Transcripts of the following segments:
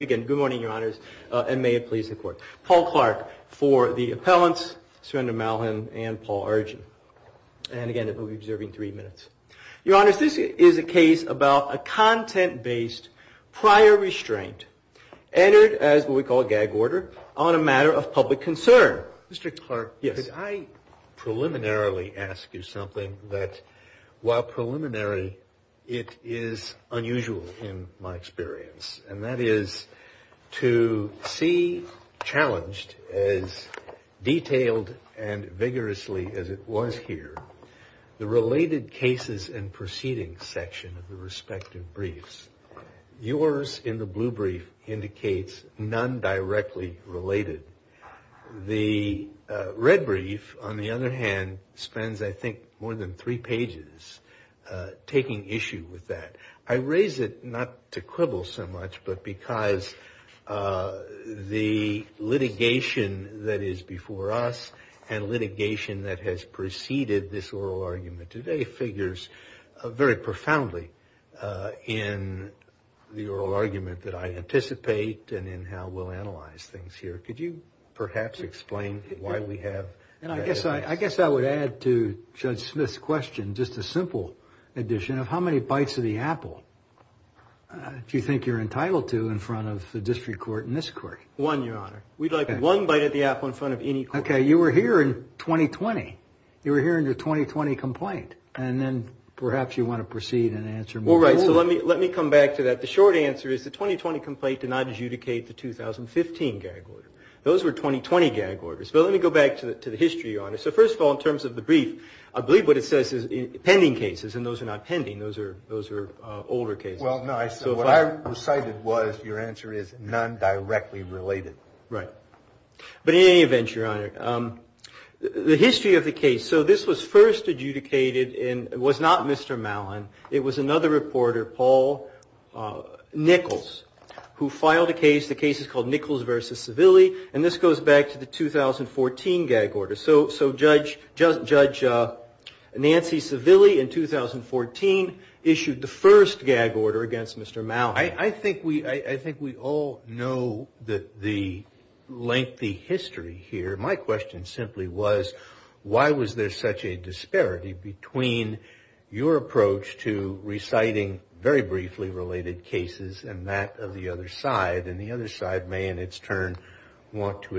Again, good morning, Your Honors, and may it please the Court. Paul Clark for the appellants, Sergeant Malhin and Paul Argen. And again, we'll be observing three minutes. Your Honors, this is a case about a content-based prior restraint entered as what we call a gag order on a matter of public concern. Mr. Clark, could I preliminarily ask you something that, while preliminary, it is unusual in my To see challenged as detailed and vigorously as it was here, the related cases and proceedings section of the respective briefs. Yours, in the blue brief, indicates none directly related. The red brief, on the other hand, spends, I think, more than three pages taking issue with that. I raise it not to quibble so much, but because the litigation that is before us and litigation that has preceded this oral argument today figures very profoundly in the oral argument that I anticipate and in how we'll analyze things here. Could you perhaps explain why we have I guess I would add to Judge Smith's question just a simple addition of how many bites of the apple do you think you're entitled to in front of the district court and this court? One, Your Honor. We'd like one bite of the apple in front of any court. Okay, you were here in 2020. You were here in your 2020 complaint, and then perhaps you want to proceed and answer me. Well, right, so let me come back to that. The short answer is the 2020 complaint did not adjudicate the 2015 gag order. Those were 2020 gag orders. But let me go back to the history, Your Honor. So first of all, in terms of the brief, I believe what it says is pending cases, and those are not pending. Those are older cases. Well, no, so what I recited was your answer is none directly related. Right. But in any event, Your Honor, the history of the case, so this was first adjudicated, and it was not Mr. Mallon. It was another reporter, Paul Nichols, who filed a case. The case is called Nichols v. Civilli, and this goes back to the 2014 gag order. So Judge Nancy Civilli in 2014 issued the first gag order against Mr. Mallon. I think we all know the lengthy history here. My question simply was why was there such a disparity between your approach to reciting very briefly related cases and that of the other side, and the other side may in its turn want to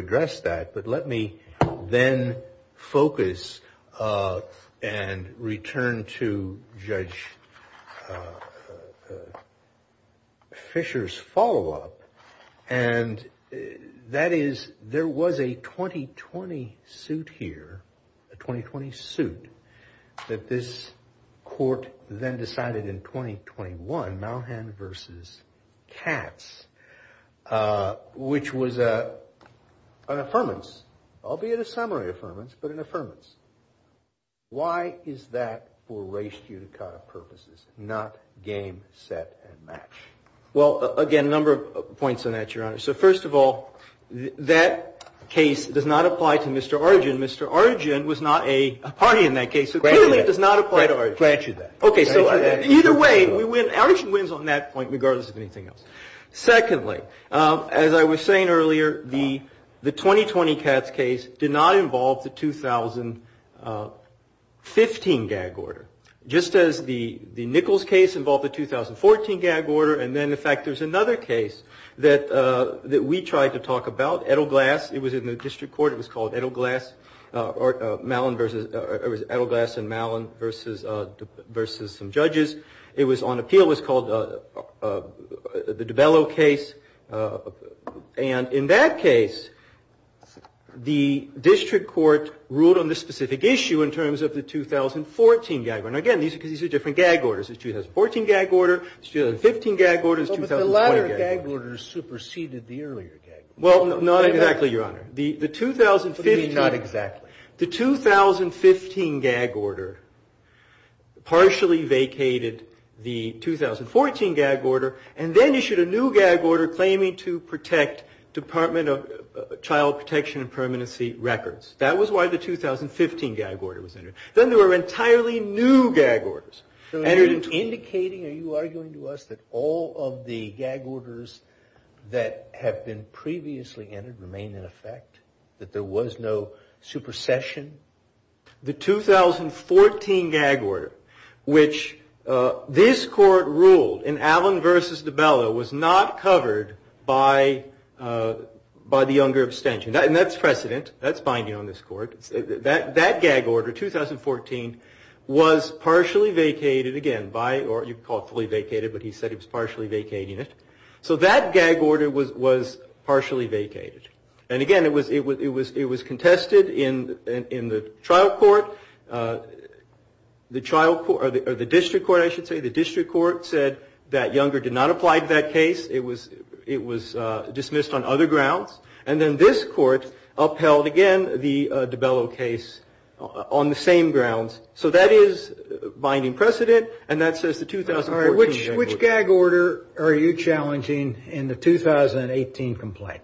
Well, again, a number of points on that, Your Honor. So first of all, that case does not apply to Mr. Arjun. Mr. Arjun was not a party in that case, so clearly it does not apply to Arjun. Grant you that. Okay, so either way, Arjun wins on that point regardless of anything else. Secondly, as I was saying earlier, the 2020 Katz case did not involve the 2015 gag order, just as the Nichols case involved the 2014 gag order. And then, in fact, there's another case that we tried to talk about, Edelglass. It was in the district court. It was called Edelglass v. Mallon v. some judges. It was on appeal. It was called the DiBello case, and in that case, the district court ruled on this specific issue in terms of the 2014 gag order. Well, not exactly, Your Honor. The 2015 gag order partially vacated the 2014 gag order, and then issued a new gag order claiming to protect Department of Child Protection and Permanency records. That was why the 2015 gag order was entered. Then there were entirely new gag orders entered into it. Are you arguing to us that all of the gag orders that have been previously entered remain in effect? That there was no supercession? The 2014 gag order, which this court ruled in Allen v. DiBello, was not covered by the younger abstention. And that's precedent. That's binding on this court. That gag order, 2014, was partially vacated, again, by the younger abstention. You could call it fully vacated, but he said he was partially vacating it. So that gag order was partially vacated. And again, it was contested in the district court. The district court said that younger did not apply to that case. It was dismissed on other grounds. And then this court upheld, again, the DiBello case on the same grounds. So that is binding precedent. And that says the 2014 gag order. All right. Which gag order are you challenging in the 2018 complaint?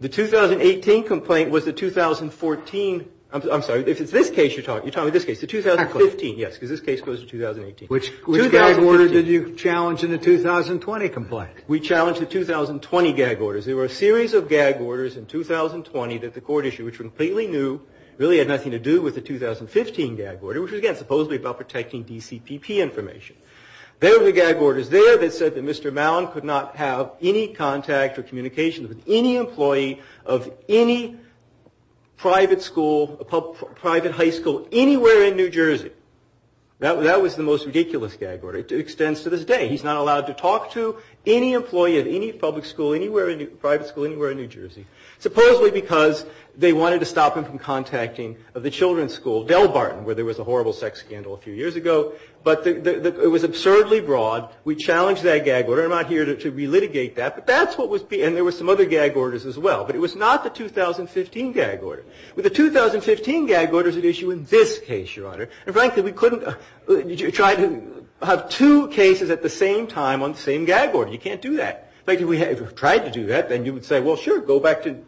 The 2018 complaint was the 2014. I'm sorry. If it's this case, you're talking about this case. The 2015, yes, because this case goes to 2018. Which gag order did you challenge in the 2020 complaint? We challenged the 2020 gag orders. There were a series of gag orders in 2020 that the court issued, which were completely new, really had nothing to do with the 2015 gag order, which was, again, supposedly about protecting DCPP information. There were gag orders there that said that Mr. Mallon could not have any contact or communication with any employee of any private school, private high school, anywhere in New Jersey. That was the most ridiculous gag order. It extends to this day. He's not allowed to talk to any employee of any public school, private school, anywhere in New Jersey. Supposedly because they wanted to stop him from contacting the children's school, Del Barton, where there was a horrible sex scandal a few years ago. But it was absurdly broad. We challenged that gag order. I'm not here to relitigate that. But that's what was being – and there were some other gag orders as well. But it was not the 2015 gag order. The 2015 gag order is at issue in this case, Your Honor. And frankly, we couldn't try to have two cases at the same time on the same gag order. You can't do that. In fact, if we had tried to do that, then you would say, well, sure, go back to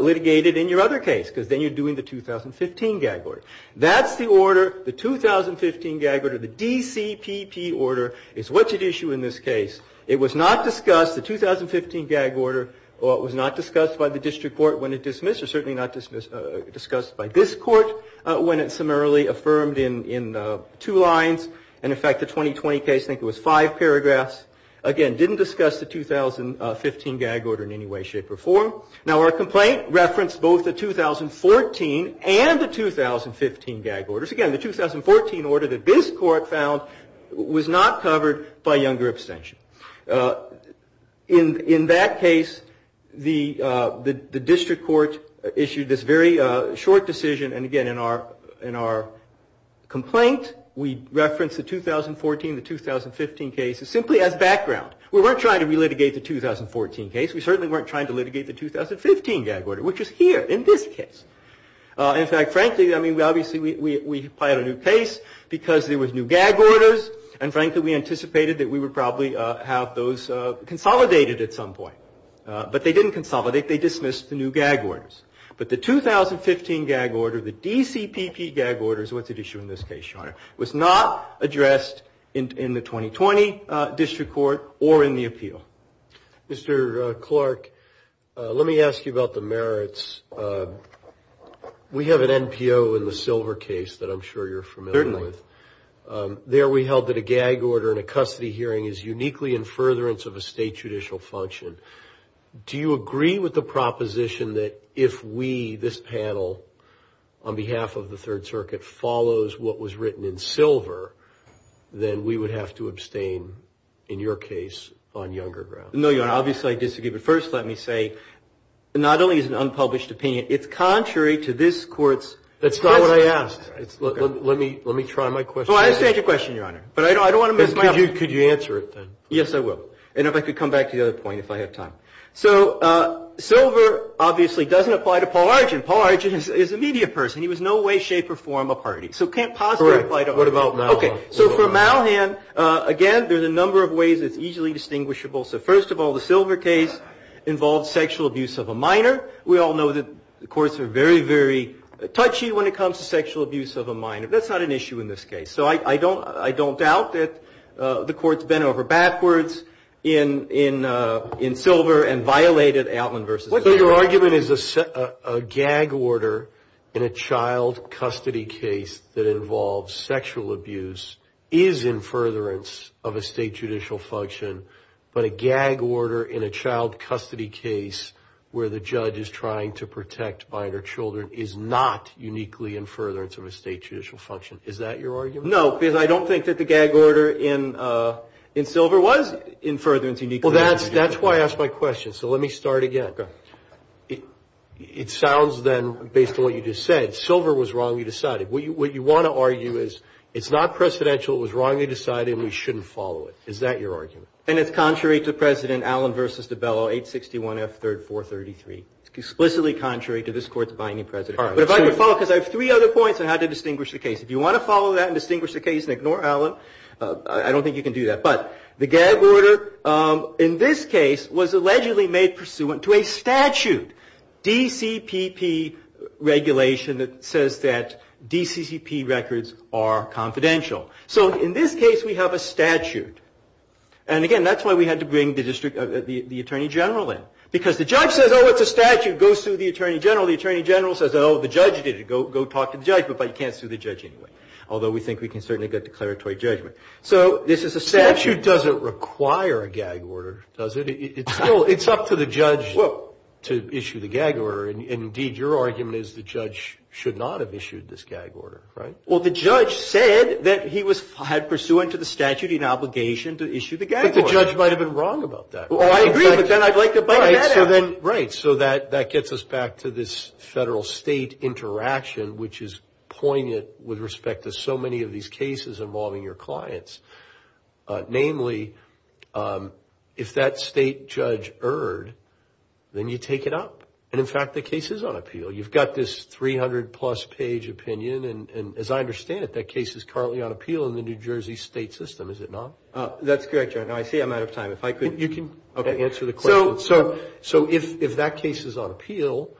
litigate it in your other case, because then you're doing the 2015 gag order. That's the order, the 2015 gag order, the DCPP order, is what's at issue in this case. It was not discussed, the 2015 gag order, was not discussed by the district court when it dismissed, or certainly not discussed by this court when it summarily affirmed in two lines. And in fact, the 2020 case, I think it was five paragraphs, again, didn't discuss the 2015 gag order in any way, shape, or form. Now, our complaint referenced both the 2014 and the 2015 gag orders. Again, the 2014 order that this court found was not covered by younger abstention. In that case, the district court issued this very short decision, and again, in our complaint, we referenced the 2014 and the 2015 cases simply as background. We weren't trying to relitigate the 2014 case. We certainly weren't trying to litigate the 2015 gag order, which is here in this case. In fact, frankly, I mean, obviously, we had a new case because there was new gag orders, and frankly, we anticipated that we would probably have those consolidated at some point. But they didn't consolidate, they dismissed the new gag orders. But the 2015 gag order, the DCPP gag order, is what's at issue in this case, Your Honor, was not addressed in the 2020 district court, or in the appeal. Mr. Clark, let me ask you about the merits. We have an NPO in the Silver case that I'm sure you're familiar with. There we held that a gag order in a custody hearing is uniquely in furtherance of a state judicial function. Do you agree with the proposition that if we, this panel, on behalf of the Third Circuit, follows what was written in Silver, then we would have to abstain, in your case, on younger grounds? No, Your Honor. Obviously, I disagree. But first, let me say, not only is it an unpublished opinion, it's contrary to this court's... That's not what I asked. Let me try my question. Well, I understand your question, Your Honor. But I don't want to miss my opportunity. Could you answer it, then? Yes, I will. And if I could come back to the other point, if I have time. So, Silver obviously doesn't apply to Paul Argent. Paul Argent is a media person. He was in no way, shape, or form a party. So it can't possibly apply to Argent. Correct. What about Malhan? Okay. So, for Malhan, again, there's a number of ways it's easily distinguishable. So, first of all, the Silver case involved sexual abuse of a minor. We all know that the courts are very, very touchy when it comes to sexual abuse of a minor. That's not an issue in this case. So I don't doubt that the courts bent over backwards in Silver and violated Altman v. O'Brien. So your argument is a gag order in a child custody case that involves sexual abuse is in furtherance of a state judicial function, but a gag order in a child custody case where the judge is trying to protect minor children is not uniquely in furtherance of a state judicial function? Is that your argument? No, because I don't think that the gag order in Silver was in furtherance. Well, that's why I asked my question. So let me start again. Okay. It sounds, then, based on what you just said, Silver was wrongly decided. What you want to argue is it's not precedential, it was wrongly decided, and we shouldn't follow it. Is that your argument? And it's contrary to President Allen v. DiBello, 861 F. 3rd 433. It's explicitly contrary to this Court's binding precedent. All right. But if I could follow, because I have three other points on how to distinguish the case. If you want to follow that and distinguish the case and ignore Allen, I don't think you can do that. But the gag order in this case was allegedly made pursuant to a statute, DCPP regulation that says that DCPP records are confidential. So in this case, we have a statute. And again, that's why we had to bring the Attorney General in. Because the judge says, oh, it's a statute, go sue the Attorney General. The Attorney General says, oh, the judge did it, go talk to the judge. But you can't sue the judge anyway. Although we think we can certainly get declaratory judgment. So this is a statute. Statute doesn't require a gag order, does it? It's up to the judge to issue the gag order. And indeed, your argument is the judge should not have issued this gag order, right? Well, the judge said that he had pursuant to the statute an obligation to issue the gag order. But the judge might have been wrong about that. Well, I agree, but then I'd like to bite that apple. Right. So that gets us back to this federal-state interaction, which is poignant with respect to so many of these cases involving your clients. Namely, if that state judge erred, then you take it up. And in fact, the case is on appeal. You've got this 300-plus page opinion. And as I understand it, that case is currently on appeal in the New Jersey state system, is it not? That's correct, John. Now, I see I'm out of time. If I could... You can answer the question. So if that case is on appeal,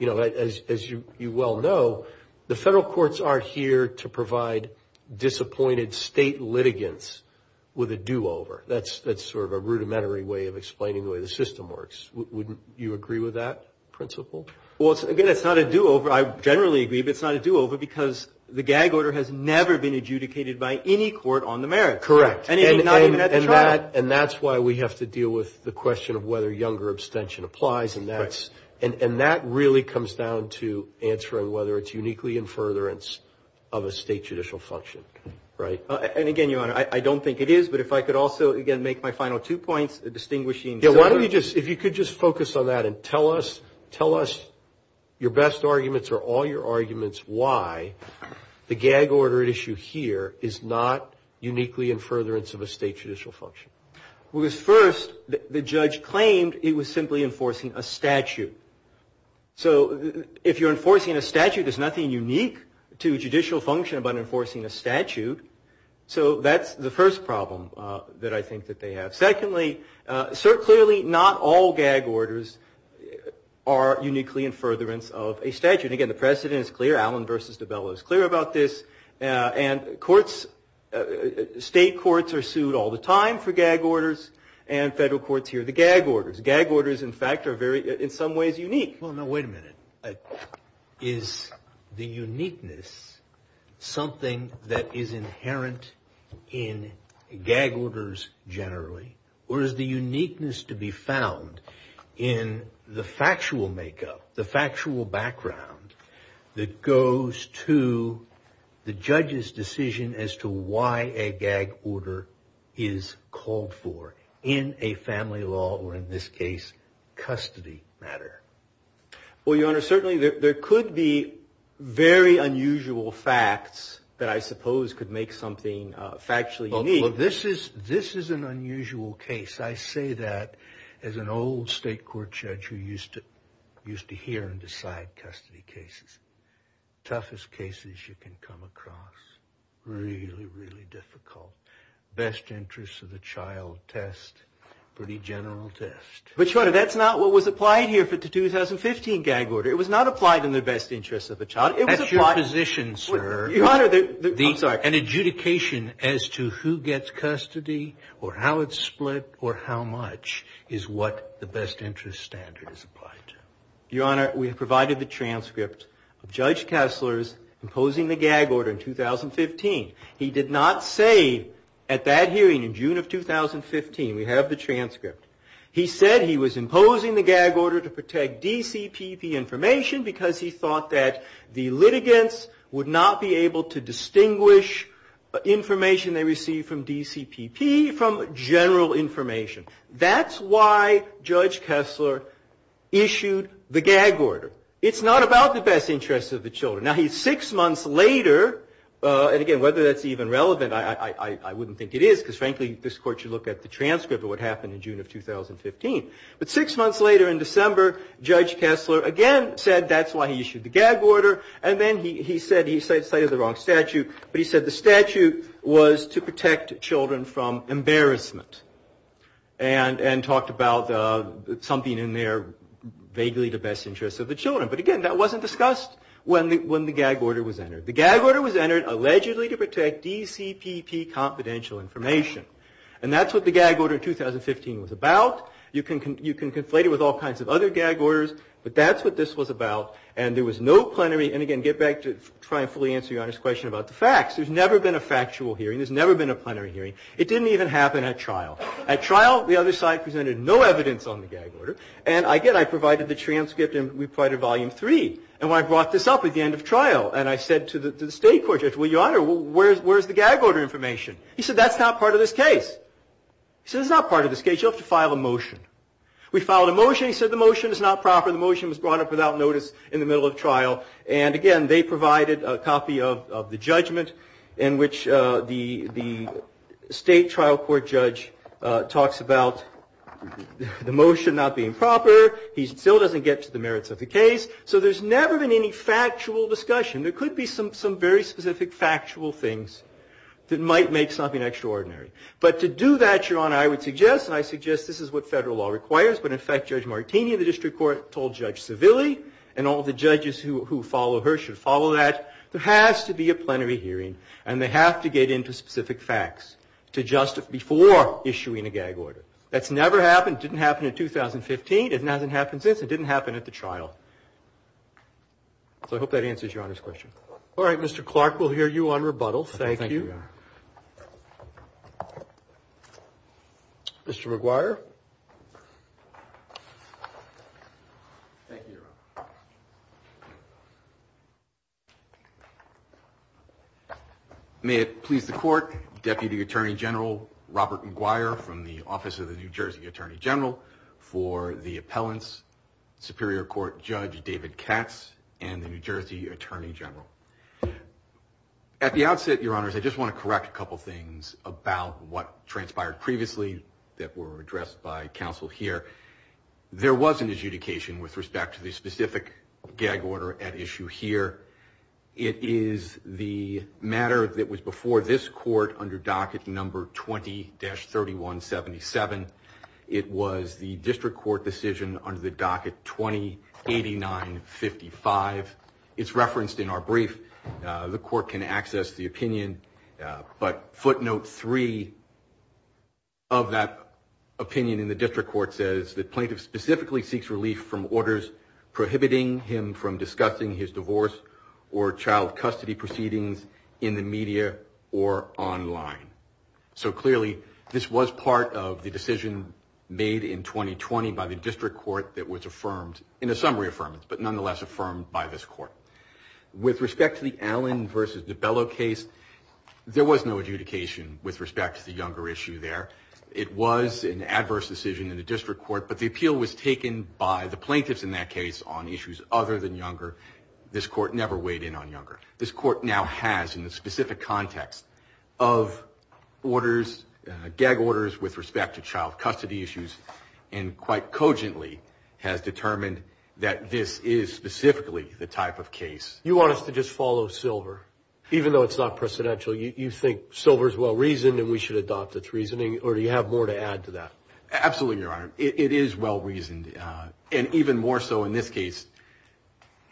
as you well know, the federal courts are here to provide disappointed state litigants with a do-over. That's sort of a rudimentary way of explaining the way the system works. Wouldn't you agree with that principle? I think that's not a do-over. I generally agree, but it's not a do-over because the gag order has never been adjudicated by any court on the merits. Correct. And that's why we have to deal with the question of whether younger abstention applies. And that really comes down to answering whether it's uniquely in furtherance of a state judicial function, right? And again, Your Honor, I don't think it is. But if I could also, again, make my final two points, distinguishing... Yeah, why don't you just, if you could just focus on that and tell us, tell us your best arguments or all your arguments why the gag order issue here is not uniquely in furtherance of a state judicial function. Well, because first, the judge claimed it was simply enforcing a statute. So if you're enforcing a statute, there's nothing unique to judicial function about enforcing a statute. So that's the first problem that I think that they have. Secondly, certainly not all gag orders are uniquely in furtherance of a statute. Again, the precedent is clear. Allen v. DiBello is clear about this. And courts, state courts are sued all the time for gag orders, and federal courts hear the gag orders. Gag orders, in fact, are very, in some ways, unique. Well, now wait a minute. Is the uniqueness something that is inherent in gag orders generally? Or is the uniqueness to be found in the factual makeup, the factual background that goes to the judge's decision as to why a gag order is called for in a family law, or in this case, custody matter? Well, Your Honor, certainly there could be very unusual facts that I suppose could make something factually unique. Well, this is an unusual case. I say that as an old state court judge who used to hear and decide custody cases. Toughest cases you can come across. Really, really difficult. Best interest of the child test. Pretty general test. But, Your Honor, that's not what was applied here for the 2015 gag order. It was not applied in the best interest of a child. That's your position, sir. Your Honor, the... I'm sorry. An adjudication as to who gets custody, or how it's split, or how much, is what the best interest standard is applied to. Your Honor, we have provided the transcript of Judge Kessler's imposing the gag order in 2015. He did not say at that hearing in June of 2015, we have the transcript. He said he was imposing the gag order to protect DCPP information because he thought that the litigants would not be able to do that. They would not be able to distinguish information they received from DCPP from general information. That's why Judge Kessler issued the gag order. It's not about the best interest of the children. Now, six months later, and again, whether that's even relevant, I wouldn't think it is, because frankly, this Court should look at the transcript of what happened in June of 2015. But six months later in December, Judge Kessler again said that's why he issued the gag order. And then he said, he cited the wrong statute, but he said the statute was to protect children from embarrassment. And talked about something in there vaguely the best interest of the children. But again, that wasn't discussed when the gag order was entered. The gag order was entered allegedly to protect DCPP confidential information. And that's what the gag order in 2015 was about. You can conflate it with all kinds of other gag orders. But that's what this was about. And there was no plenary, and again, get back to try and fully answer Your Honor's question about the facts. There's never been a factual hearing. There's never been a plenary hearing. It didn't even happen at trial. At trial, the other side presented no evidence on the gag order. And again, I provided the transcript, and we provided volume three. And when I brought this up at the end of trial, and I said to the State Court, Judge, well, Your Honor, where's the gag order information? He said, that's not part of this case. He said, it's not part of this case. You'll have to file a motion. We filed a motion. He said, the motion is not proper. The motion was brought up without notice in the middle of trial. And again, they provided a copy of the judgment in which the State Trial Court judge talks about the motion not being proper. He still doesn't get to the merits of the case. So there's never been any factual discussion. There could be some very specific factual things that might make something extraordinary. But to do that, Your Honor, I would suggest, and I suggest this is what federal law requires, but in fact, Judge Martini of the District Court told Judge Civilli, and all the judges who follow her should follow that, there has to be a plenary hearing. And they have to get into specific facts to justify before issuing a gag order. That's never happened. It didn't happen in 2015. It hasn't happened since. It didn't happen at the trial. So I hope that answers Your Honor's question. All right, Mr. Clark, we'll hear you on rebuttal. Thank you. Mr. McGuire. Thank you, Your Honor. May it please the Court, Deputy Attorney General Robert McGuire from the Office of the New Jersey Attorney General, for the appellants, Superior Court Judge David Katz and the New Jersey Attorney General. At the outset, Your Honors, I just want to correct a couple things about what transpired previously that were addressed by counsel here. There was an adjudication with respect to the specific gag order at issue here. It is the matter that was before this Court under docket number 20-3177. It was the district court decision under the docket 20-8955. It's referenced in our brief. The Court can access the opinion, but footnote three of that opinion in the district court says that plaintiff specifically seeks relief from orders prohibiting him from discussing his divorce or child custody proceedings in the media or online. So clearly, this was part of the decision made in 2020 by the district court that was affirmed, in a summary affirmance, but nonetheless affirmed by this Court. With respect to the Allen v. DiBello case, there was no adjudication with respect to the Younger issue there. It was an adverse decision in the district court, but the appeal was taken by the plaintiffs in that case on issues other than Younger. This Court never weighed in on Younger. It's never weighed in on his orders, gag orders with respect to child custody issues, and quite cogently has determined that this is specifically the type of case. You want us to just follow Silver, even though it's not precedential? You think Silver's well-reasoned and we should adopt its reasoning? Or do you have more to add to that? Absolutely, Your Honor. It is well-reasoned, and even more so in this case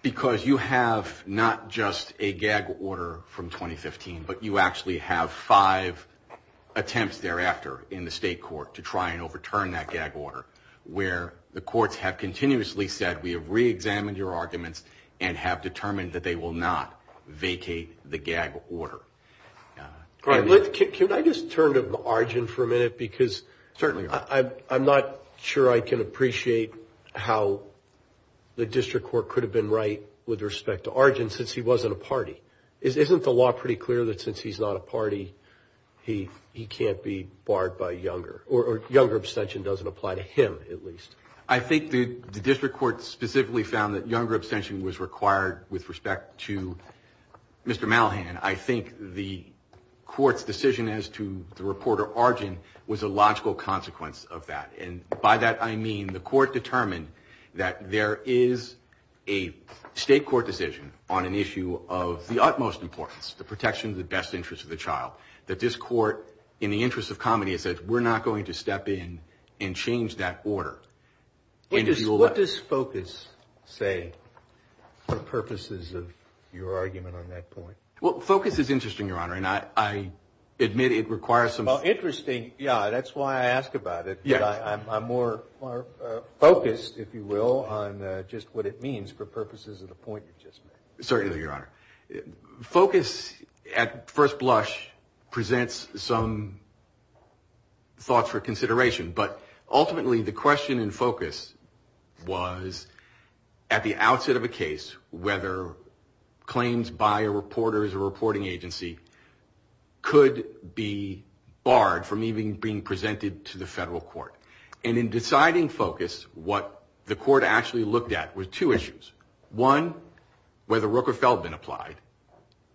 because you have not just a gag order from 2015, but you actually have five, three, four, five gag orders in this case. And there have been attempts thereafter in the state court to try and overturn that gag order, where the courts have continuously said, we have reexamined your arguments and have determined that they will not vacate the gag order. Could I just turn to Arjun for a minute? I'm not sure I can appreciate how the district court could have been right with respect to Arjun, since he wasn't a party. Isn't the law pretty clear that since he's not a party, he can't be barred by Younger? Or Younger abstention doesn't apply to him, at least? I think the district court specifically found that Younger abstention was required with respect to Mr. Malhan. I think the court's decision as to the reporter Arjun was a logical consequence of that. And by that I mean the court determined that there is a state court decision on an issue of the agency, and of the utmost importance, the protection of the best interest of the child, that this court, in the interest of comedy, has said we're not going to step in and change that order. What does focus say for purposes of your argument on that point? Well, focus is interesting, Your Honor, and I admit it requires some... Well, interesting, yeah, that's why I ask about it. I'm more focused, if you will, on just what it means for purposes of the point you just made. Certainly, Your Honor. Focus, at first blush, presents some thoughts for consideration, but ultimately the question in focus was at the outset of a case, whether claims by a reporter as a reporting agency could be barred from even being presented to the federal court. And in deciding focus, what the court actually looked at were two issues. One, whether Rooker-Feldman applied,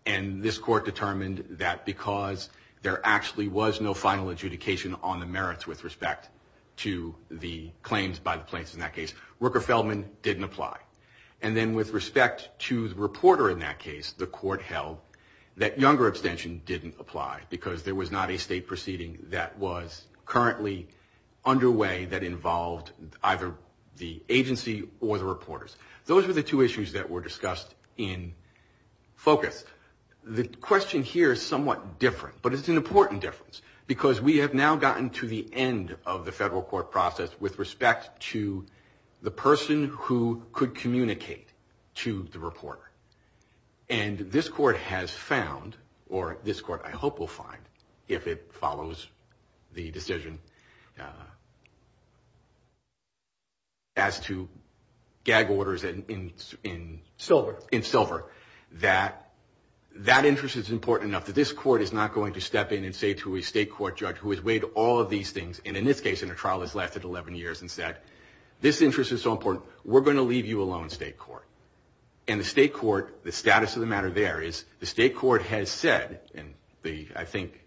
and this court determined that because there actually was no final adjudication on the merits with respect to the claims by the plaintiffs in that case, Rooker-Feldman didn't apply. And then with respect to the reporter in that case, the court held that younger abstention didn't apply because there was not a state proceeding that was currently underway that involved either the agency or the reporters. Those were the two issues that were discussed in focus. The question here is somewhat different, but it's an important difference, because we have now gotten to the end of the federal court process with respect to the person who could communicate to the reporter. And this court has found, or this court I hope will find, if it follows the decision as to gag orders in Silver, that that interest is important enough that this court is not going to step in and say to a state court judge who has weighed all of these things, and in this case in a trial that's lasted 11 years, and said, this interest is so important, we're going to leave you alone, state court. And the state court, the status of the matter there is the state court has said, and I think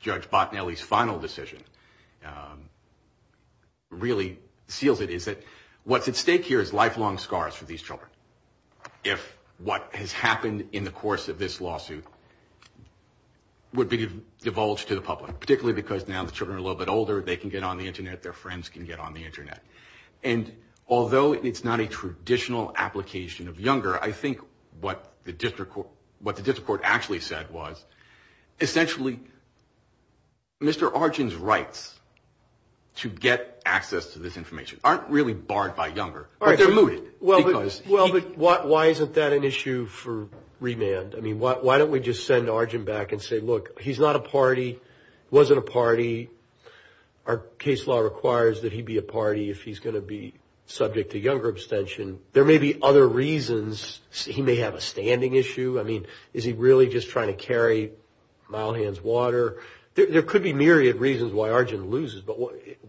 Judge Bottinelli's final decision really seals it, is that what's at stake here is lifelong scars for these children. If what has happened in the course of this lawsuit would be divulged to the public, particularly because now the children are a little bit older, they can get on the Internet, their friends can get on the Internet, and although it's not a traditional application of Younger, I think what the district court actually said was, essentially, Mr. Arjun's rights to get access to this information aren't really barred by Younger, but they're mooted. Well, but why isn't that an issue for remand? I mean, why don't we just send Arjun back and say, look, he's not a party, wasn't a party, our case law requires that he be a party if he's going to be subject to Younger abstention. There may be other reasons. He may have a standing issue. I mean, is he really just trying to carry Mildhand's water? There could be myriad reasons why Arjun loses, but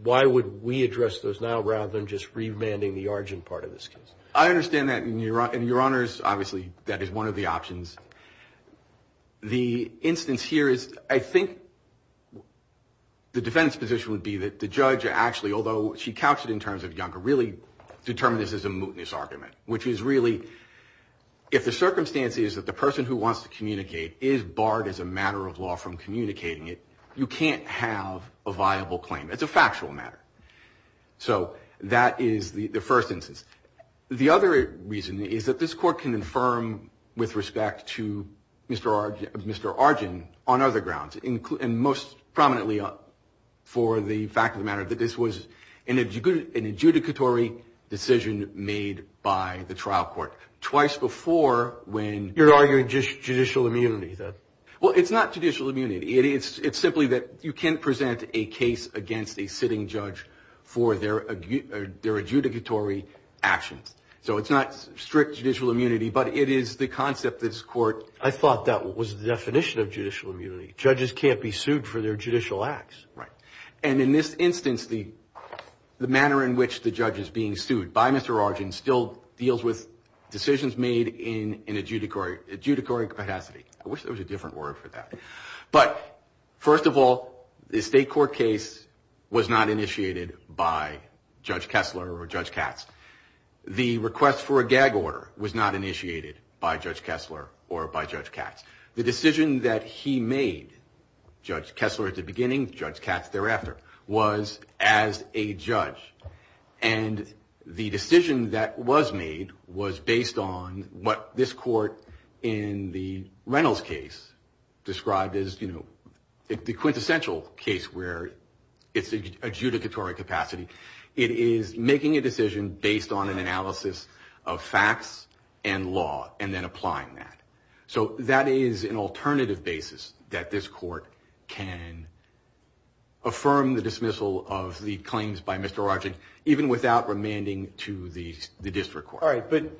why would we address those now, rather than just remanding the Arjun part of this case? I understand that, and, Your Honors, obviously that is one of the options. The instance here is, I think the defense position would be that the judge actually, although she couched it in terms of Younger, really determined this as a mootness argument, which is really, if the circumstance is that the person who wants to communicate is barred as a matter of law from communicating it, you can't have a viable claim. It's a factual matter. So that is the first instance. The other reason is that this Court can infirm, with respect to Mr. Arjun, on other grounds, and most prominently for the fact of the matter that this was an adjudicatory decision made by the trial court. Twice before when... Well, it's not judicial immunity. It's simply that you can't present a case against a sitting judge for their adjudicatory actions. So it's not strict judicial immunity, but it is the concept that this Court... I thought that was the definition of judicial immunity. Judges can't be sued for their judicial acts. And in this instance, the manner in which the judge is being sued by Mr. Arjun still deals with decisions made in an adjudicatory capacity. I wish there was a different word for that. But, first of all, the state court case was not initiated by Judge Kessler or Judge Katz. The request for a gag order was not initiated by Judge Kessler or by Judge Katz. The decision that he made, Judge Kessler at the beginning, Judge Katz thereafter, was as a judge. And the decision that was made was based on what this Court in the rest of the case, the Reynolds case, described as the quintessential case where it's adjudicatory capacity. It is making a decision based on an analysis of facts and law, and then applying that. So that is an alternative basis that this Court can affirm the dismissal of the claims by Mr. Arjun even without remanding to the district court. All right, but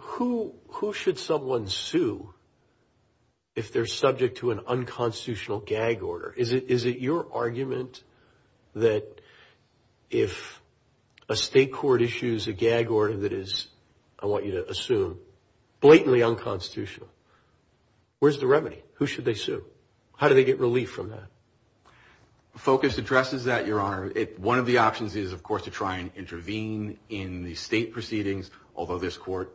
who should someone sue if they're subject to an unconstitutional gag order? Is it your argument that if a state court issues a gag order that is, I want you to assume, blatantly unconstitutional, where's the remedy? Who should they sue? How do they get relief from that? One option is to file a federal lawsuit in the state proceedings, although this Court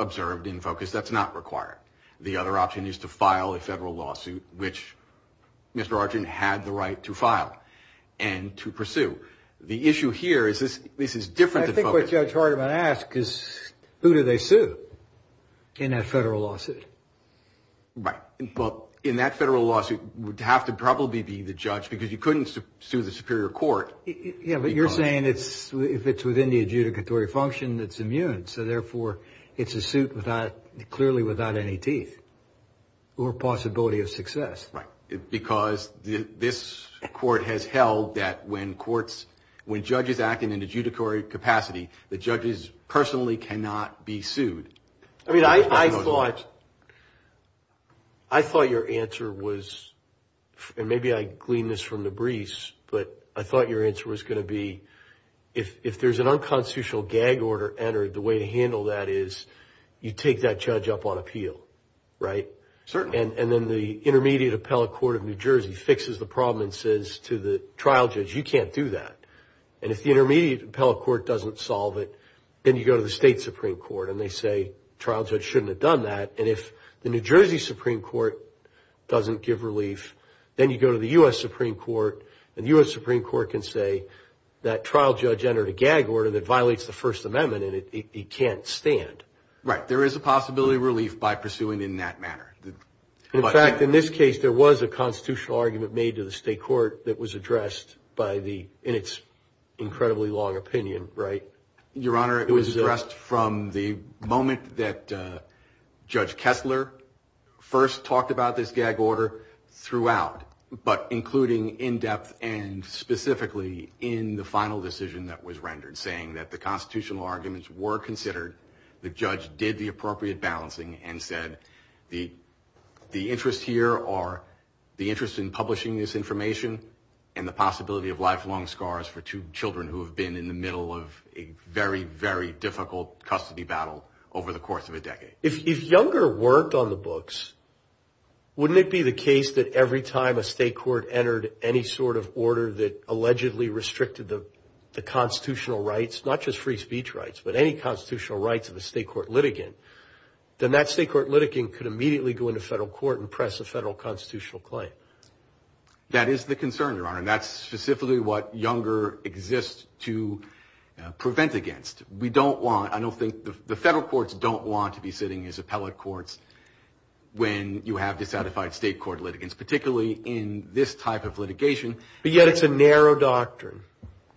observed in focus that's not required. The other option is to file a federal lawsuit, which Mr. Arjun had the right to file and to pursue. The issue here is this is different than... I think what Judge Hardiman asked is who do they sue in that federal lawsuit? Right. Well, in that federal lawsuit, it would have to probably be the judge because you couldn't sue the superior court. It's a statutory function that's immune, so therefore it's a suit clearly without any teeth or possibility of success. Right, because this Court has held that when judges act in an adjudicatory capacity, the judges personally cannot be sued. I mean, I thought your answer was, and maybe I gleaned this from the briefs, but I thought your answer was going to be if there's an unconstitutional gag order entered, the way to handle that is you take that judge up on appeal, right? Certainly. And then the Intermediate Appellate Court of New Jersey fixes the problem and says to the trial judge, you can't do that. And if the Intermediate Appellate Court doesn't solve it, then you go to the State Supreme Court, and they say, trial judge shouldn't have done that. And if the New Jersey Supreme Court doesn't give relief, then you go to the U.S. Supreme Court, and the U.S. Supreme Court can say that trial judge has to be sued. But if the judge has entered a gag order that violates the First Amendment, it can't stand. Right, there is a possibility of relief by pursuing in that manner. In fact, in this case, there was a constitutional argument made to the State Court that was addressed by the, in its incredibly long opinion, right? Your Honor, it was addressed from the moment that Judge Kessler first talked about this gag order throughout, but including in-depth and specifically in the final decision that was made. And the final decision was rendered, saying that the constitutional arguments were considered, the judge did the appropriate balancing, and said, the interest here are the interest in publishing this information, and the possibility of lifelong scars for two children who have been in the middle of a very, very difficult custody battle over the course of a decade. If Younger worked on the books, wouldn't it be the case that every time a State Court entered any sort of order that allegedly restricted the constitutional argument? If Younger had any constitutional rights, not just free speech rights, but any constitutional rights of a State Court litigant, then that State Court litigant could immediately go into federal court and press a federal constitutional claim. That is the concern, Your Honor, and that's specifically what Younger exists to prevent against. We don't want, I don't think, the federal courts don't want to be sitting as appellate courts when you have dissatisfied State Court litigants, particularly in this type of litigation. But yet, it's a narrow doctrine.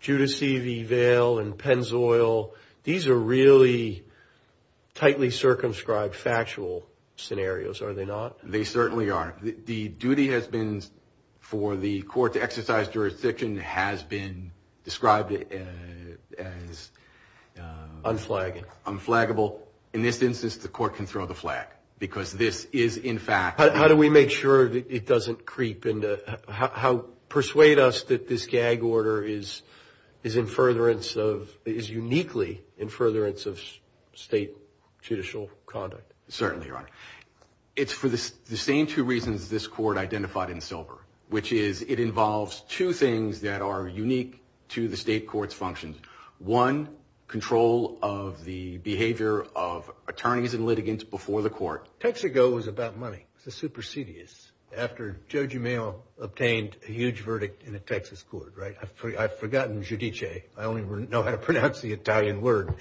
Judicy v. Vail and Pennzoil, these are really tightly circumscribed factual scenarios, are they not? They certainly are. The duty has been for the court to exercise jurisdiction has been described as unflagging, unflaggable. In this instance, the court can throw the flag, because this is, in fact... How do we make sure that it doesn't creep into, how, persuade us that this gag order is in furtherance of, is uniquely in furtherance of State judicial conduct? Certainly, Your Honor, it's for the same two reasons this court identified in Silver, which is it involves two things that are unique to the State Court's functions. One, control of the behavior of attorneys and litigants before the court. Texaco was about money, the supersedious, after Joe Gimeno obtained a huge verdict in a Texas court, right? I've forgotten judice, I only know how to pronounce the Italian word,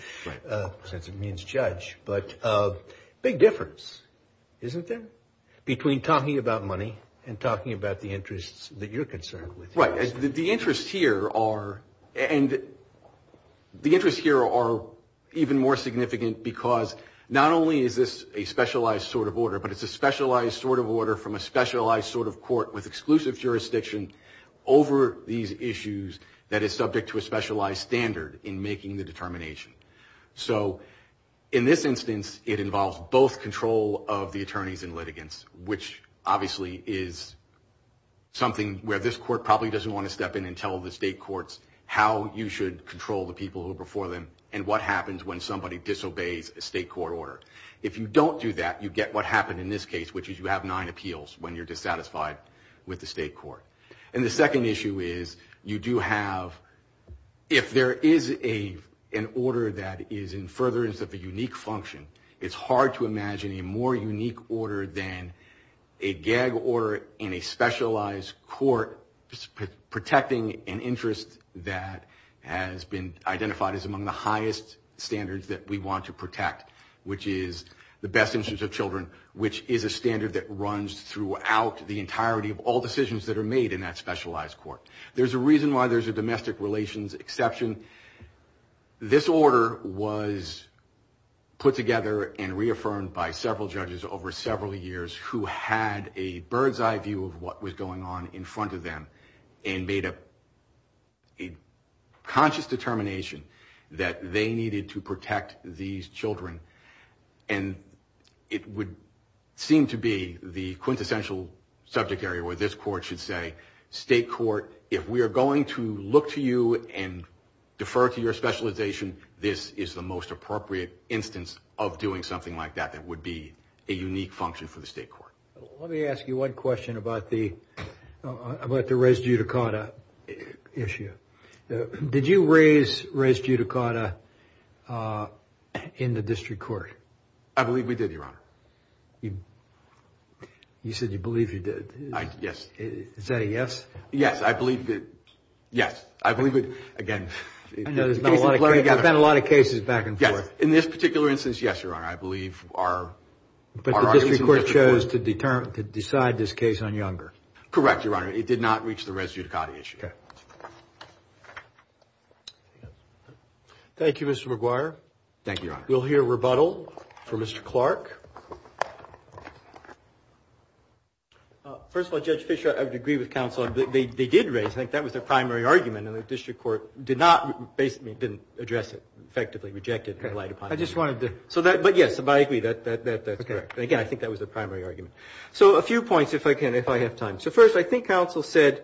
since it means judge. But big difference, isn't there, between talking about money and talking about the interests that you're concerned with? Right, the interests here are, and the interests here are even more significant, because not only is this a specialized court, but it's a specialized sort of order from a specialized sort of court with exclusive jurisdiction over these issues that is subject to a specialized standard in making the determination. So, in this instance, it involves both control of the attorneys and litigants, which obviously is something where this court probably doesn't want to step in and tell the State Courts how you should control the people who are before them, and what happens when somebody disobeys a State Court order. If you don't do that, you get what happened in this case, which is you have nine appeals when you're dissatisfied with the State Court. And the second issue is, you do have, if there is an order that is in furtherance of a unique function, it's hard to imagine a more unique order than a gag order in a specialized court protecting an interest that has been identified as among the highest standards that we want to protect, which is the best interest of children, which is a standard that runs throughout the entirety of all decisions that are made in that specialized court. There's a reason why there's a domestic relations exception. This order was put together and reaffirmed by several judges over several years, who had a bird's eye view of what was going on in front of them, and made a conscious determination that they needed to protect these children. And it would seem to be the quintessential subject area where this court should say, State Court, if we are going to look to you and defer to your specialization, this is the most appropriate instance of doing something like that that would be a unique function for the State Court. Let me ask you one question about the res judicata issue. Did you raise res judicata in the district court? I believe we did, Your Honor. You said you believe you did. Is that a yes? Yes, I believe it. Yes, I believe it. Again, there's been a lot of cases back and forth. In this particular instance, yes, Your Honor, I believe our district court chose to decide this case on Younger. Correct, Your Honor, it did not reach the res judicata issue. Thank you, Mr. McGuire. Thank you, Your Honor. We'll hear rebuttal from Mr. Clark. First of all, Judge Fischer, I would agree with counsel, they did raise, I think that was their primary argument, and the district court did not, basically didn't address it, effectively rejected it. I just wanted to... So a few points, if I can, if I have time. So first, I think counsel said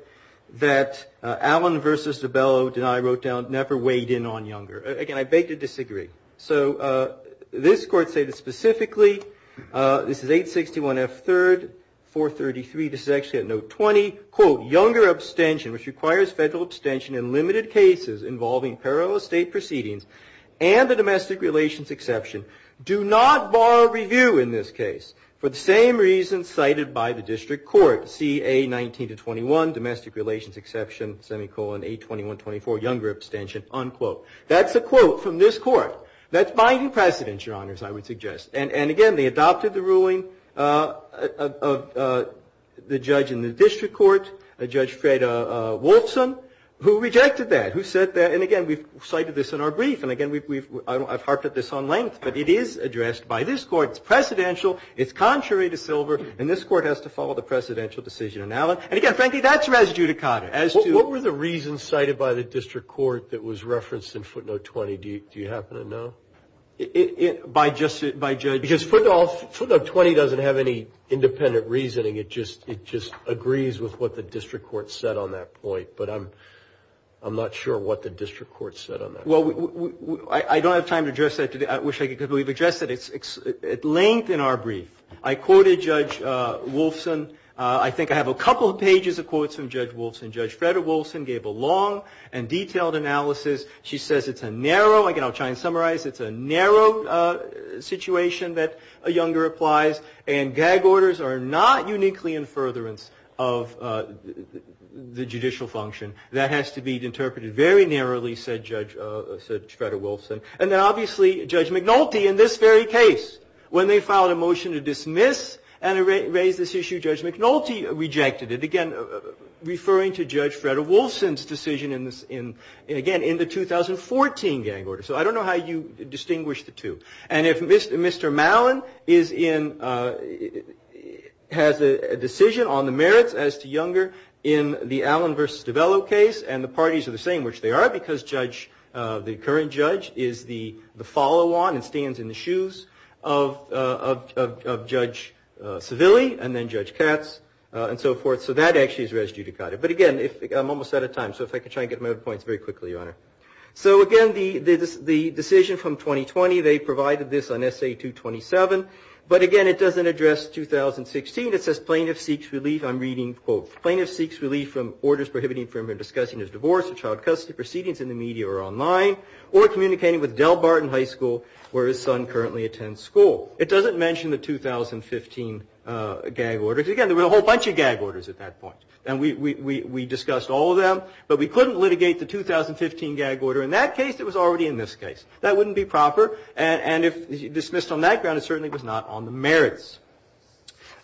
that Allen v. DiBello, deny, wrote down, never weighed in on Younger. Again, I beg to disagree. So this court stated specifically, this is 861F3, 433, this is actually at note 20, quote, Younger abstention, which requires federal abstention in limited cases involving parallel state proceedings and the domestic relations exception. Do not borrow review in this case for the same reasons cited by the district court, C.A. 19-21, domestic relations exception, semicolon, 821-24, Younger abstention, unquote. That's a quote from this court. That's binding precedence, Your Honors, I would suggest. And again, they adopted the ruling of the judge in the district court, Judge Fred Wolfson, who rejected that, who said that, and again, we've cited this in our brief, and again, I've heard this before. I've looked at this on length, but it is addressed by this court. It's precedential, it's contrary to Silver, and this court has to follow the precedential decision in Allen. And again, frankly, that's res judicata. What were the reasons cited by the district court that was referenced in footnote 20, do you happen to know? By judge? Because footnote 20 doesn't have any independent reasoning, it just agrees with what the district court said on that point, but I'm not sure what the district court said. I wish I could completely address that. It's at length in our brief. I quoted Judge Wolfson. I think I have a couple pages of quotes from Judge Wolfson. Judge Fred Wolfson gave a long and detailed analysis. She says it's a narrow, again, I'll try and summarize, it's a narrow situation that Younger applies, and gag orders are not uniquely in furtherance of the judicial function. That has to be interpreted very narrowly, said Judge Fred Wolfson. And then obviously, Judge McNulty, in this very case, when they filed a motion to dismiss and erase this issue, Judge McNulty rejected it, again, referring to Judge Fred Wolfson's decision, again, in the 2014 gag order. So I don't know how you distinguish the two. And if Mr. Mallon has a decision on the merits as to Younger in the Allen v. DeVelo case, I don't know how you distinguish the two. But in the Allen case, and the parties are the same, which they are, because Judge, the current judge, is the follow-on and stands in the shoes of Judge Seville, and then Judge Katz, and so forth. So that actually is res judicata. But again, I'm almost out of time, so if I could try and get my other points very quickly, Your Honor. So again, the decision from 2020, they provided this on SA 227. But again, it doesn't address 2016. It says plaintiff seeks relief, I'm discussing his divorce or child custody proceedings in the media or online, or communicating with Del Barton High School, where his son currently attends school. It doesn't mention the 2015 gag order. Again, there were a whole bunch of gag orders at that point. And we discussed all of them. But we couldn't litigate the 2015 gag order. In that case, it was already in this case. That wouldn't be proper. And if dismissed on that ground, it certainly was not on the merits.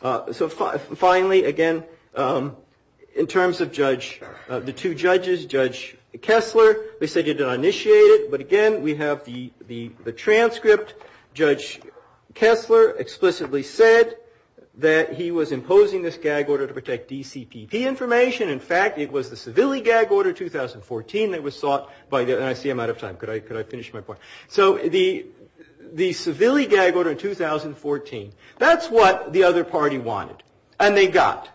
So finally, again, in terms of Judge, the two judges, Judge Kessler, they said you did not initiate it. But again, we have the transcript. Judge Kessler explicitly said that he was imposing this gag order to protect DCPP information. In fact, it was the Seville gag order 2014 that was sought by the, and I see I'm out of time. Could I finish my point? So the Seville gag order in 2014, that's what the other party wanted. And they got.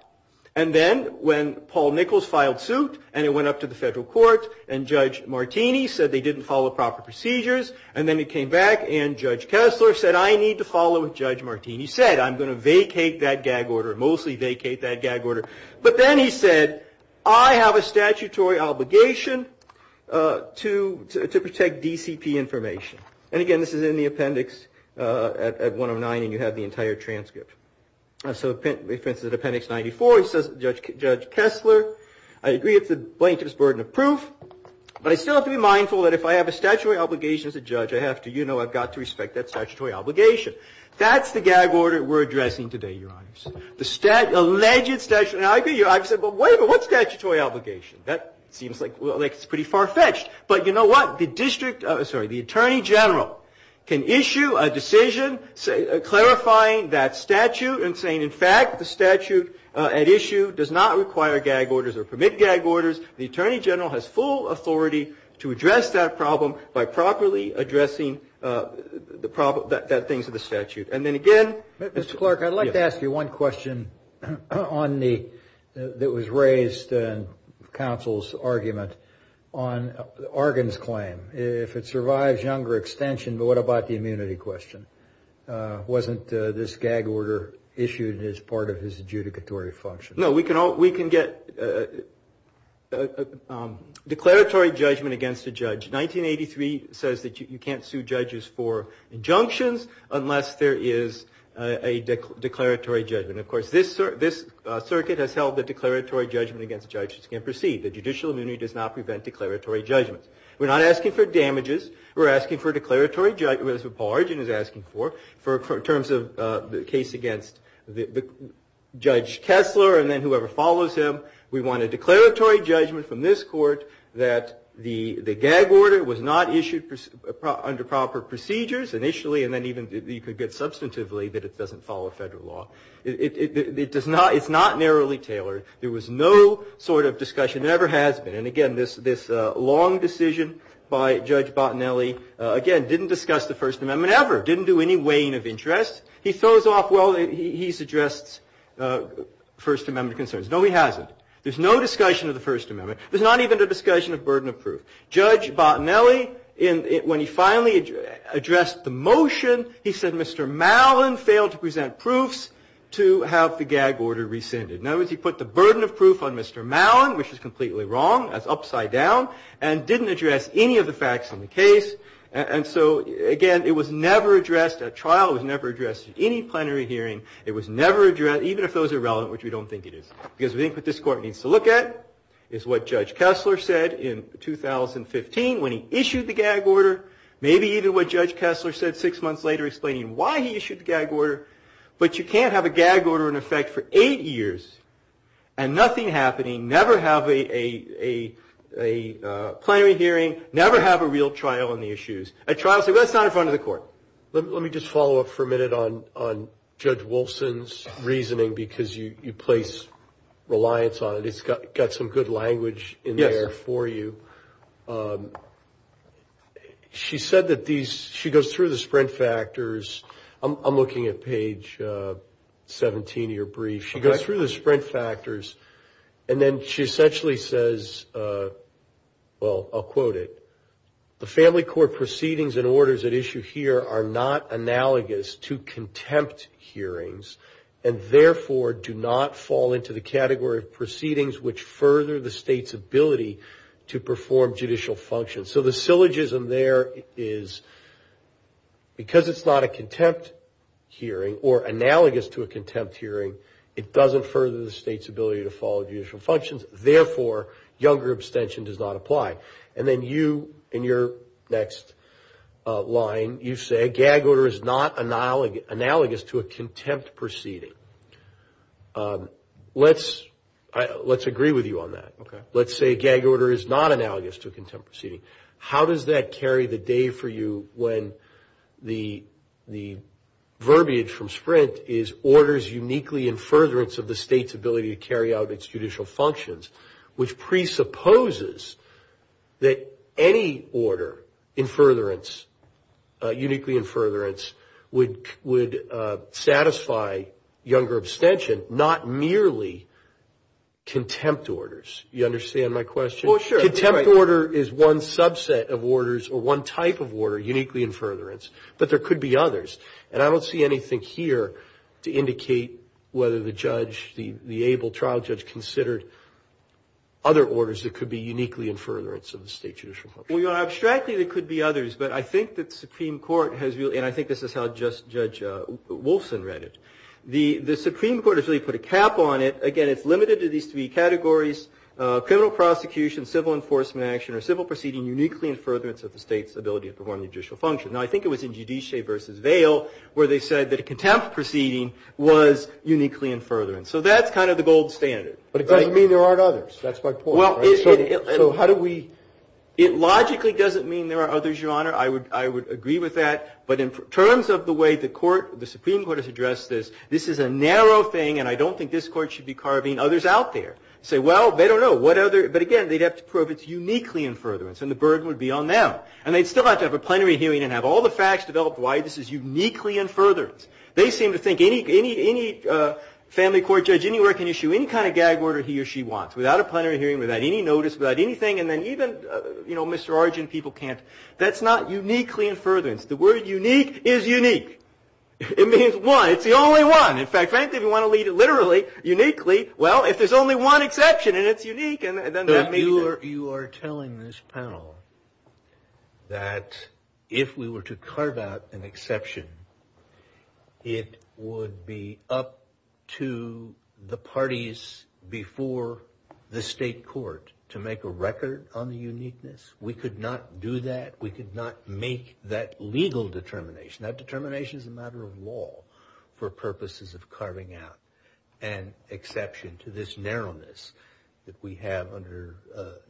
And then when Paul Nichols filed suit, and it went up to the federal court, and Judge Martini said they didn't follow proper procedures. And then it came back and Judge Kessler said, I need to follow what Judge Martini said. I'm going to vacate that gag order, mostly vacate that gag order. But then he said, I have a statutory obligation to protect DCP information. And again, this is in the appendix at 109, and you have the entire transcript. So, for instance, at appendix 94, it says, Judge Kessler, I agree it's the plaintiff's burden of proof, but I still have to be mindful that if I have a statutory obligation as a judge, I have to, you know, I've got to respect that statutory obligation. That's the gag order we're addressing today, Your Honors. The alleged statutory obligation. Now, I hear you, I've said, but wait a minute, what statutory obligation? That seems like it's pretty far-fetched. But you know what? The district, sorry, the Attorney General can issue a decision clarifying that statute and saying, in fact, the statute at issue does not require gag orders or permit gag orders. The Attorney General has full authority to address that problem by properly addressing the things of the statute. And then again, Mr. Clark, I'd like to ask you one question on the, that was raised in counsel's argument on Argonne's claim. If it survives younger extension, but what about the immunity question? Wasn't this gag order issued as part of his adjudicatory function? No, we can all, we can get declaratory judgment against a judge. 1983 says that you can't sue judges for injunctions unless there is a declaratory judgment. Of course, this circuit has held that declaratory judgment against judges can proceed. The judicial immunity does not prevent declaratory judgment. We're not asking for damages. We're asking for declaratory judgment, as Paul Argonne is asking for, in terms of the case against Judge Kessler and then whoever follows him. We want a declaratory judgment from this Court that the gag order was not issued under proper procedures initially, and then even you could get a judgment substantively that it doesn't follow federal law. It does not, it's not narrowly tailored. There was no sort of discussion, never has been. And again, this long decision by Judge Bottinelli, again, didn't discuss the First Amendment ever, didn't do any weighing of interest. He throws off, well, he's addressed First Amendment concerns. No, he hasn't. There's no discussion of the First Amendment. There's not even a discussion of burden of proof. Judge Bottinelli, when he finally addressed the motion, he said Mr. Mallon failed to present proofs to have the gag order rescinded. In other words, he put the burden of proof on Mr. Mallon, which is completely wrong, that's upside down, and didn't address any of the facts in the case. And so, again, it was never addressed at trial. It was never addressed at any plenary hearing. It was never addressed, even if those are relevant, which we don't think it is. Because we think what this Court needs to look at is what Judge Kessler said in 2015 when he repeated what Judge Kessler said six months later, explaining why he issued the gag order. But you can't have a gag order in effect for eight years and nothing happening, never have a plenary hearing, never have a real trial on the issues. At trial, say, well, it's not in front of the Court. Let me just follow up for a minute on Judge Wilson's reasoning, because you place reliance on it. It's got some good language in there for you. She said that these, she goes through the sprint factors. I'm looking at page 17 of your brief. She goes through the sprint factors, and then she essentially says, well, I'll quote it. The Family Court proceedings and orders at issue here are not analogous to contempt hearings, and therefore do not fall into the jurisdiction of the State's ability to perform judicial functions. So the syllogism there is, because it's not a contempt hearing, or analogous to a contempt hearing, it doesn't further the State's ability to follow judicial functions. Therefore, younger abstention does not apply. And then you, in your next line, you say, gag order is not analogous to a contempt proceeding. Let's agree with you on that. Let's say gag order is not analogous to a contempt proceeding. How does that carry the day for you when the verbiage from sprint is orders uniquely in furtherance of the State's ability to carry out its judicial functions, which presupposes that any order in furtherance, uniquely in furtherance, would satisfy younger abstention, not merely contempt orders? You understand my question? Well, sure. Contempt order is one subset of orders, or one type of order, uniquely in furtherance, but there could be others. And I don't see anything here to indicate whether the judge, the able trial judge, considered other orders that could be uniquely in furtherance of the State's judicial function. Well, you know, abstractly there could be others, but I think that the Supreme Court has really, and I think this is how Judge Wilson read it, the Supreme Court has said, criminal prosecution, civil enforcement action, or civil proceeding uniquely in furtherance of the State's ability to perform judicial function. Now, I think it was in Giudice v. Vail where they said that a contempt proceeding was uniquely in furtherance. So that's kind of the gold standard. But it doesn't mean there aren't others. That's my point, right? It logically doesn't mean there are others, Your Honor. I would agree with that. But in terms of the way the Supreme Court has addressed this, this is a narrow thing, and I don't think this Court should be carving others out there. Say, well, they don't know what other, but again, they'd have to prove it's uniquely in furtherance, and the burden would be on them. And they'd still have to have a plenary hearing and have all the facts developed why this is uniquely in furtherance. They seem to think any family court judge anywhere can issue any kind of gag order he or she wants, without a plenary hearing, without any notice, without anything, and then even, you know, Mr. Argent, people can't. That's not uniquely in furtherance. The word unique is unique. It means one. It's the only one. In fact, frankly, if you want to lead it literally, uniquely, well, if there's only one exception and it's unique, then that means it. You are telling this panel that if we were to carve out an exception, it would be up to the parties before the state court to make a record on the uniqueness? We could not do that. We could not make that legal determination. That determination is a matter of law for purposes of the Supreme Court. It's a matter of purposes of carving out an exception to this narrowness that we have under,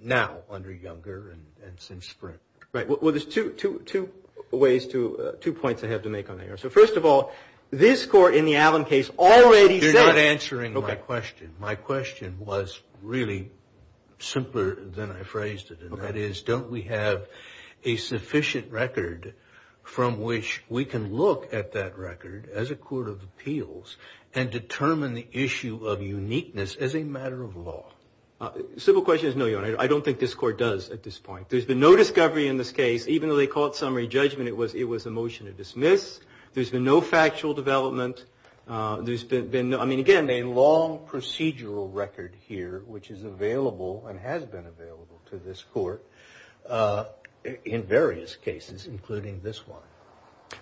now, under Younger and since Sprint. Right. Well, there's two ways to, two points I have to make on that. So, first of all, this Court in the Allen case already said. You're not answering my question. My question was really simpler than I phrased it, and that is, don't we have a sufficient record from which we can look at that appeals and determine the issue of uniqueness as a matter of law? Simple question is no, Your Honor. I don't think this Court does at this point. There's been no discovery in this case, even though they call it summary judgment, it was a motion to dismiss. There's been no factual development. There's been, I mean, again, a long procedural record here, which is available and has been available to this Court in various cases, including this one.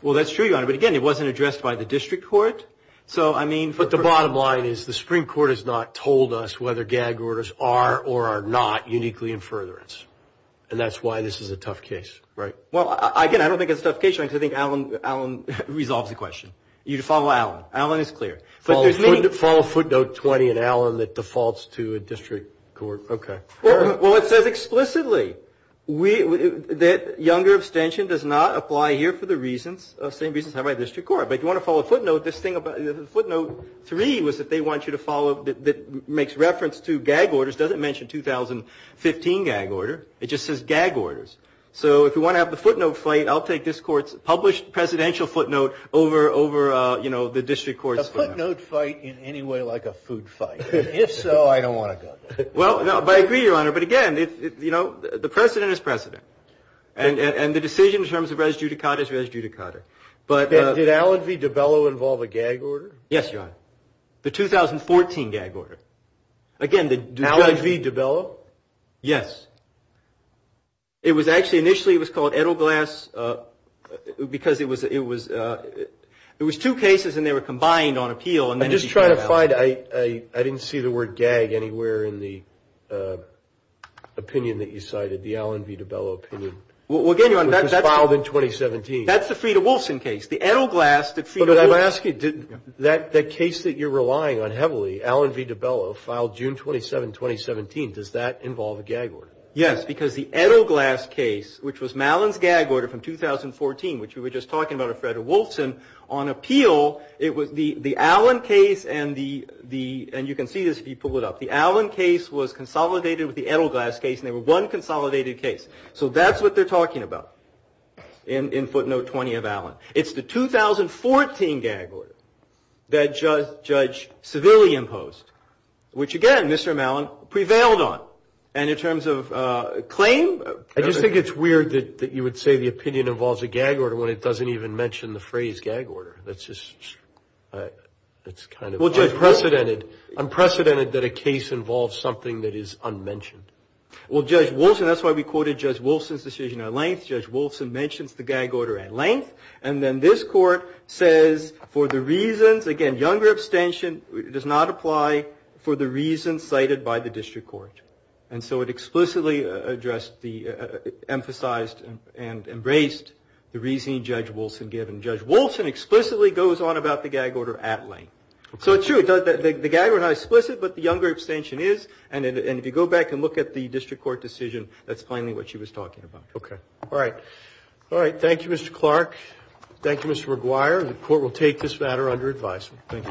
Well, that's true, Your Honor, but again, it wasn't addressed by the District Court. So, I mean... But the bottom line is the Supreme Court has not told us whether gag orders are or are not uniquely in furtherance. And that's why this is a tough case, right? Well, again, I don't think it's a tough case, Your Honor, because I think Allen resolves the question. You follow Allen. Allen is clear. Follow footnote 20 in Allen that defaults to a District Court. Okay. Well, it says explicitly that younger abstention does not apply here for the reasons, same reasons have by District Court. But if you want to follow footnote, this thing about footnote three was that they want you to follow, that makes reference to gag orders, doesn't mention 2015 gag order. It just says gag orders. So, if you want to have the footnote fight, I'll take this Court's published presidential footnote over, you know, the District Court's... I don't want to have a footnote fight in any way like a food fight. If so, I don't want to go there. Well, I agree, Your Honor, but again, you know, the precedent is precedent. And the decision in terms of res judicata is res judicata. Did Allen v. DiBello involve a gag order? Yes, Your Honor. The 2014 gag order. Allen v. DiBello? Yes. It was actually, initially it was called Edelglass because it was two cases and they were combined on appeal. I'm just trying to find, I didn't see the word gag anywhere in the opinion that you cited, the Allen v. DiBello opinion. Well, again, Your Honor, that's... It was filed in 2017. That's the Freda Wilson case. The Edelglass, the Freda Wilson... But I'm asking, that case that you're relying on heavily, Allen v. DiBello, filed June 27, 2017, does that involve a gag order? Yes, because the Edelglass case, which was Malin's gag order from 2014, which we were just talking about with Freda Wilson, on appeal, it was the Allen case and the, and you can see this if you pull it up, the Allen case was consolidated with the Edelglass case and they were one consolidated case. So that's what they're talking about in footnote 20 of Allen. It's the 2014 gag order that Judge Seville imposed, which again, Mr. Malin prevailed on. And in terms of claim... I just think it's weird that you would say the opinion involves a gag order when it doesn't even mention the phrase gag order. That's just, that's kind of unprecedented, unprecedented that a case involves something that is unmentioned. Well, Judge Wilson, that's why we quoted Judge Wilson's decision at length, Judge Wilson mentions the gag order at length, and then this court says, for the reasons, again, younger abstention does not apply for the reasons cited by the district court. And so it explicitly addressed the, emphasized and embraced the reasoning Judge Wilson given. Judge Wilson explicitly goes on about the gag order at length. So it's true that the gag order is not explicit, but the younger abstention is. And if you go back and look at the district court decision, that's plainly what she was talking about. Okay. All right. All right. Thank you, Mr. Clark. Thank you, Mr. McGuire. The court will take this matter under advisement.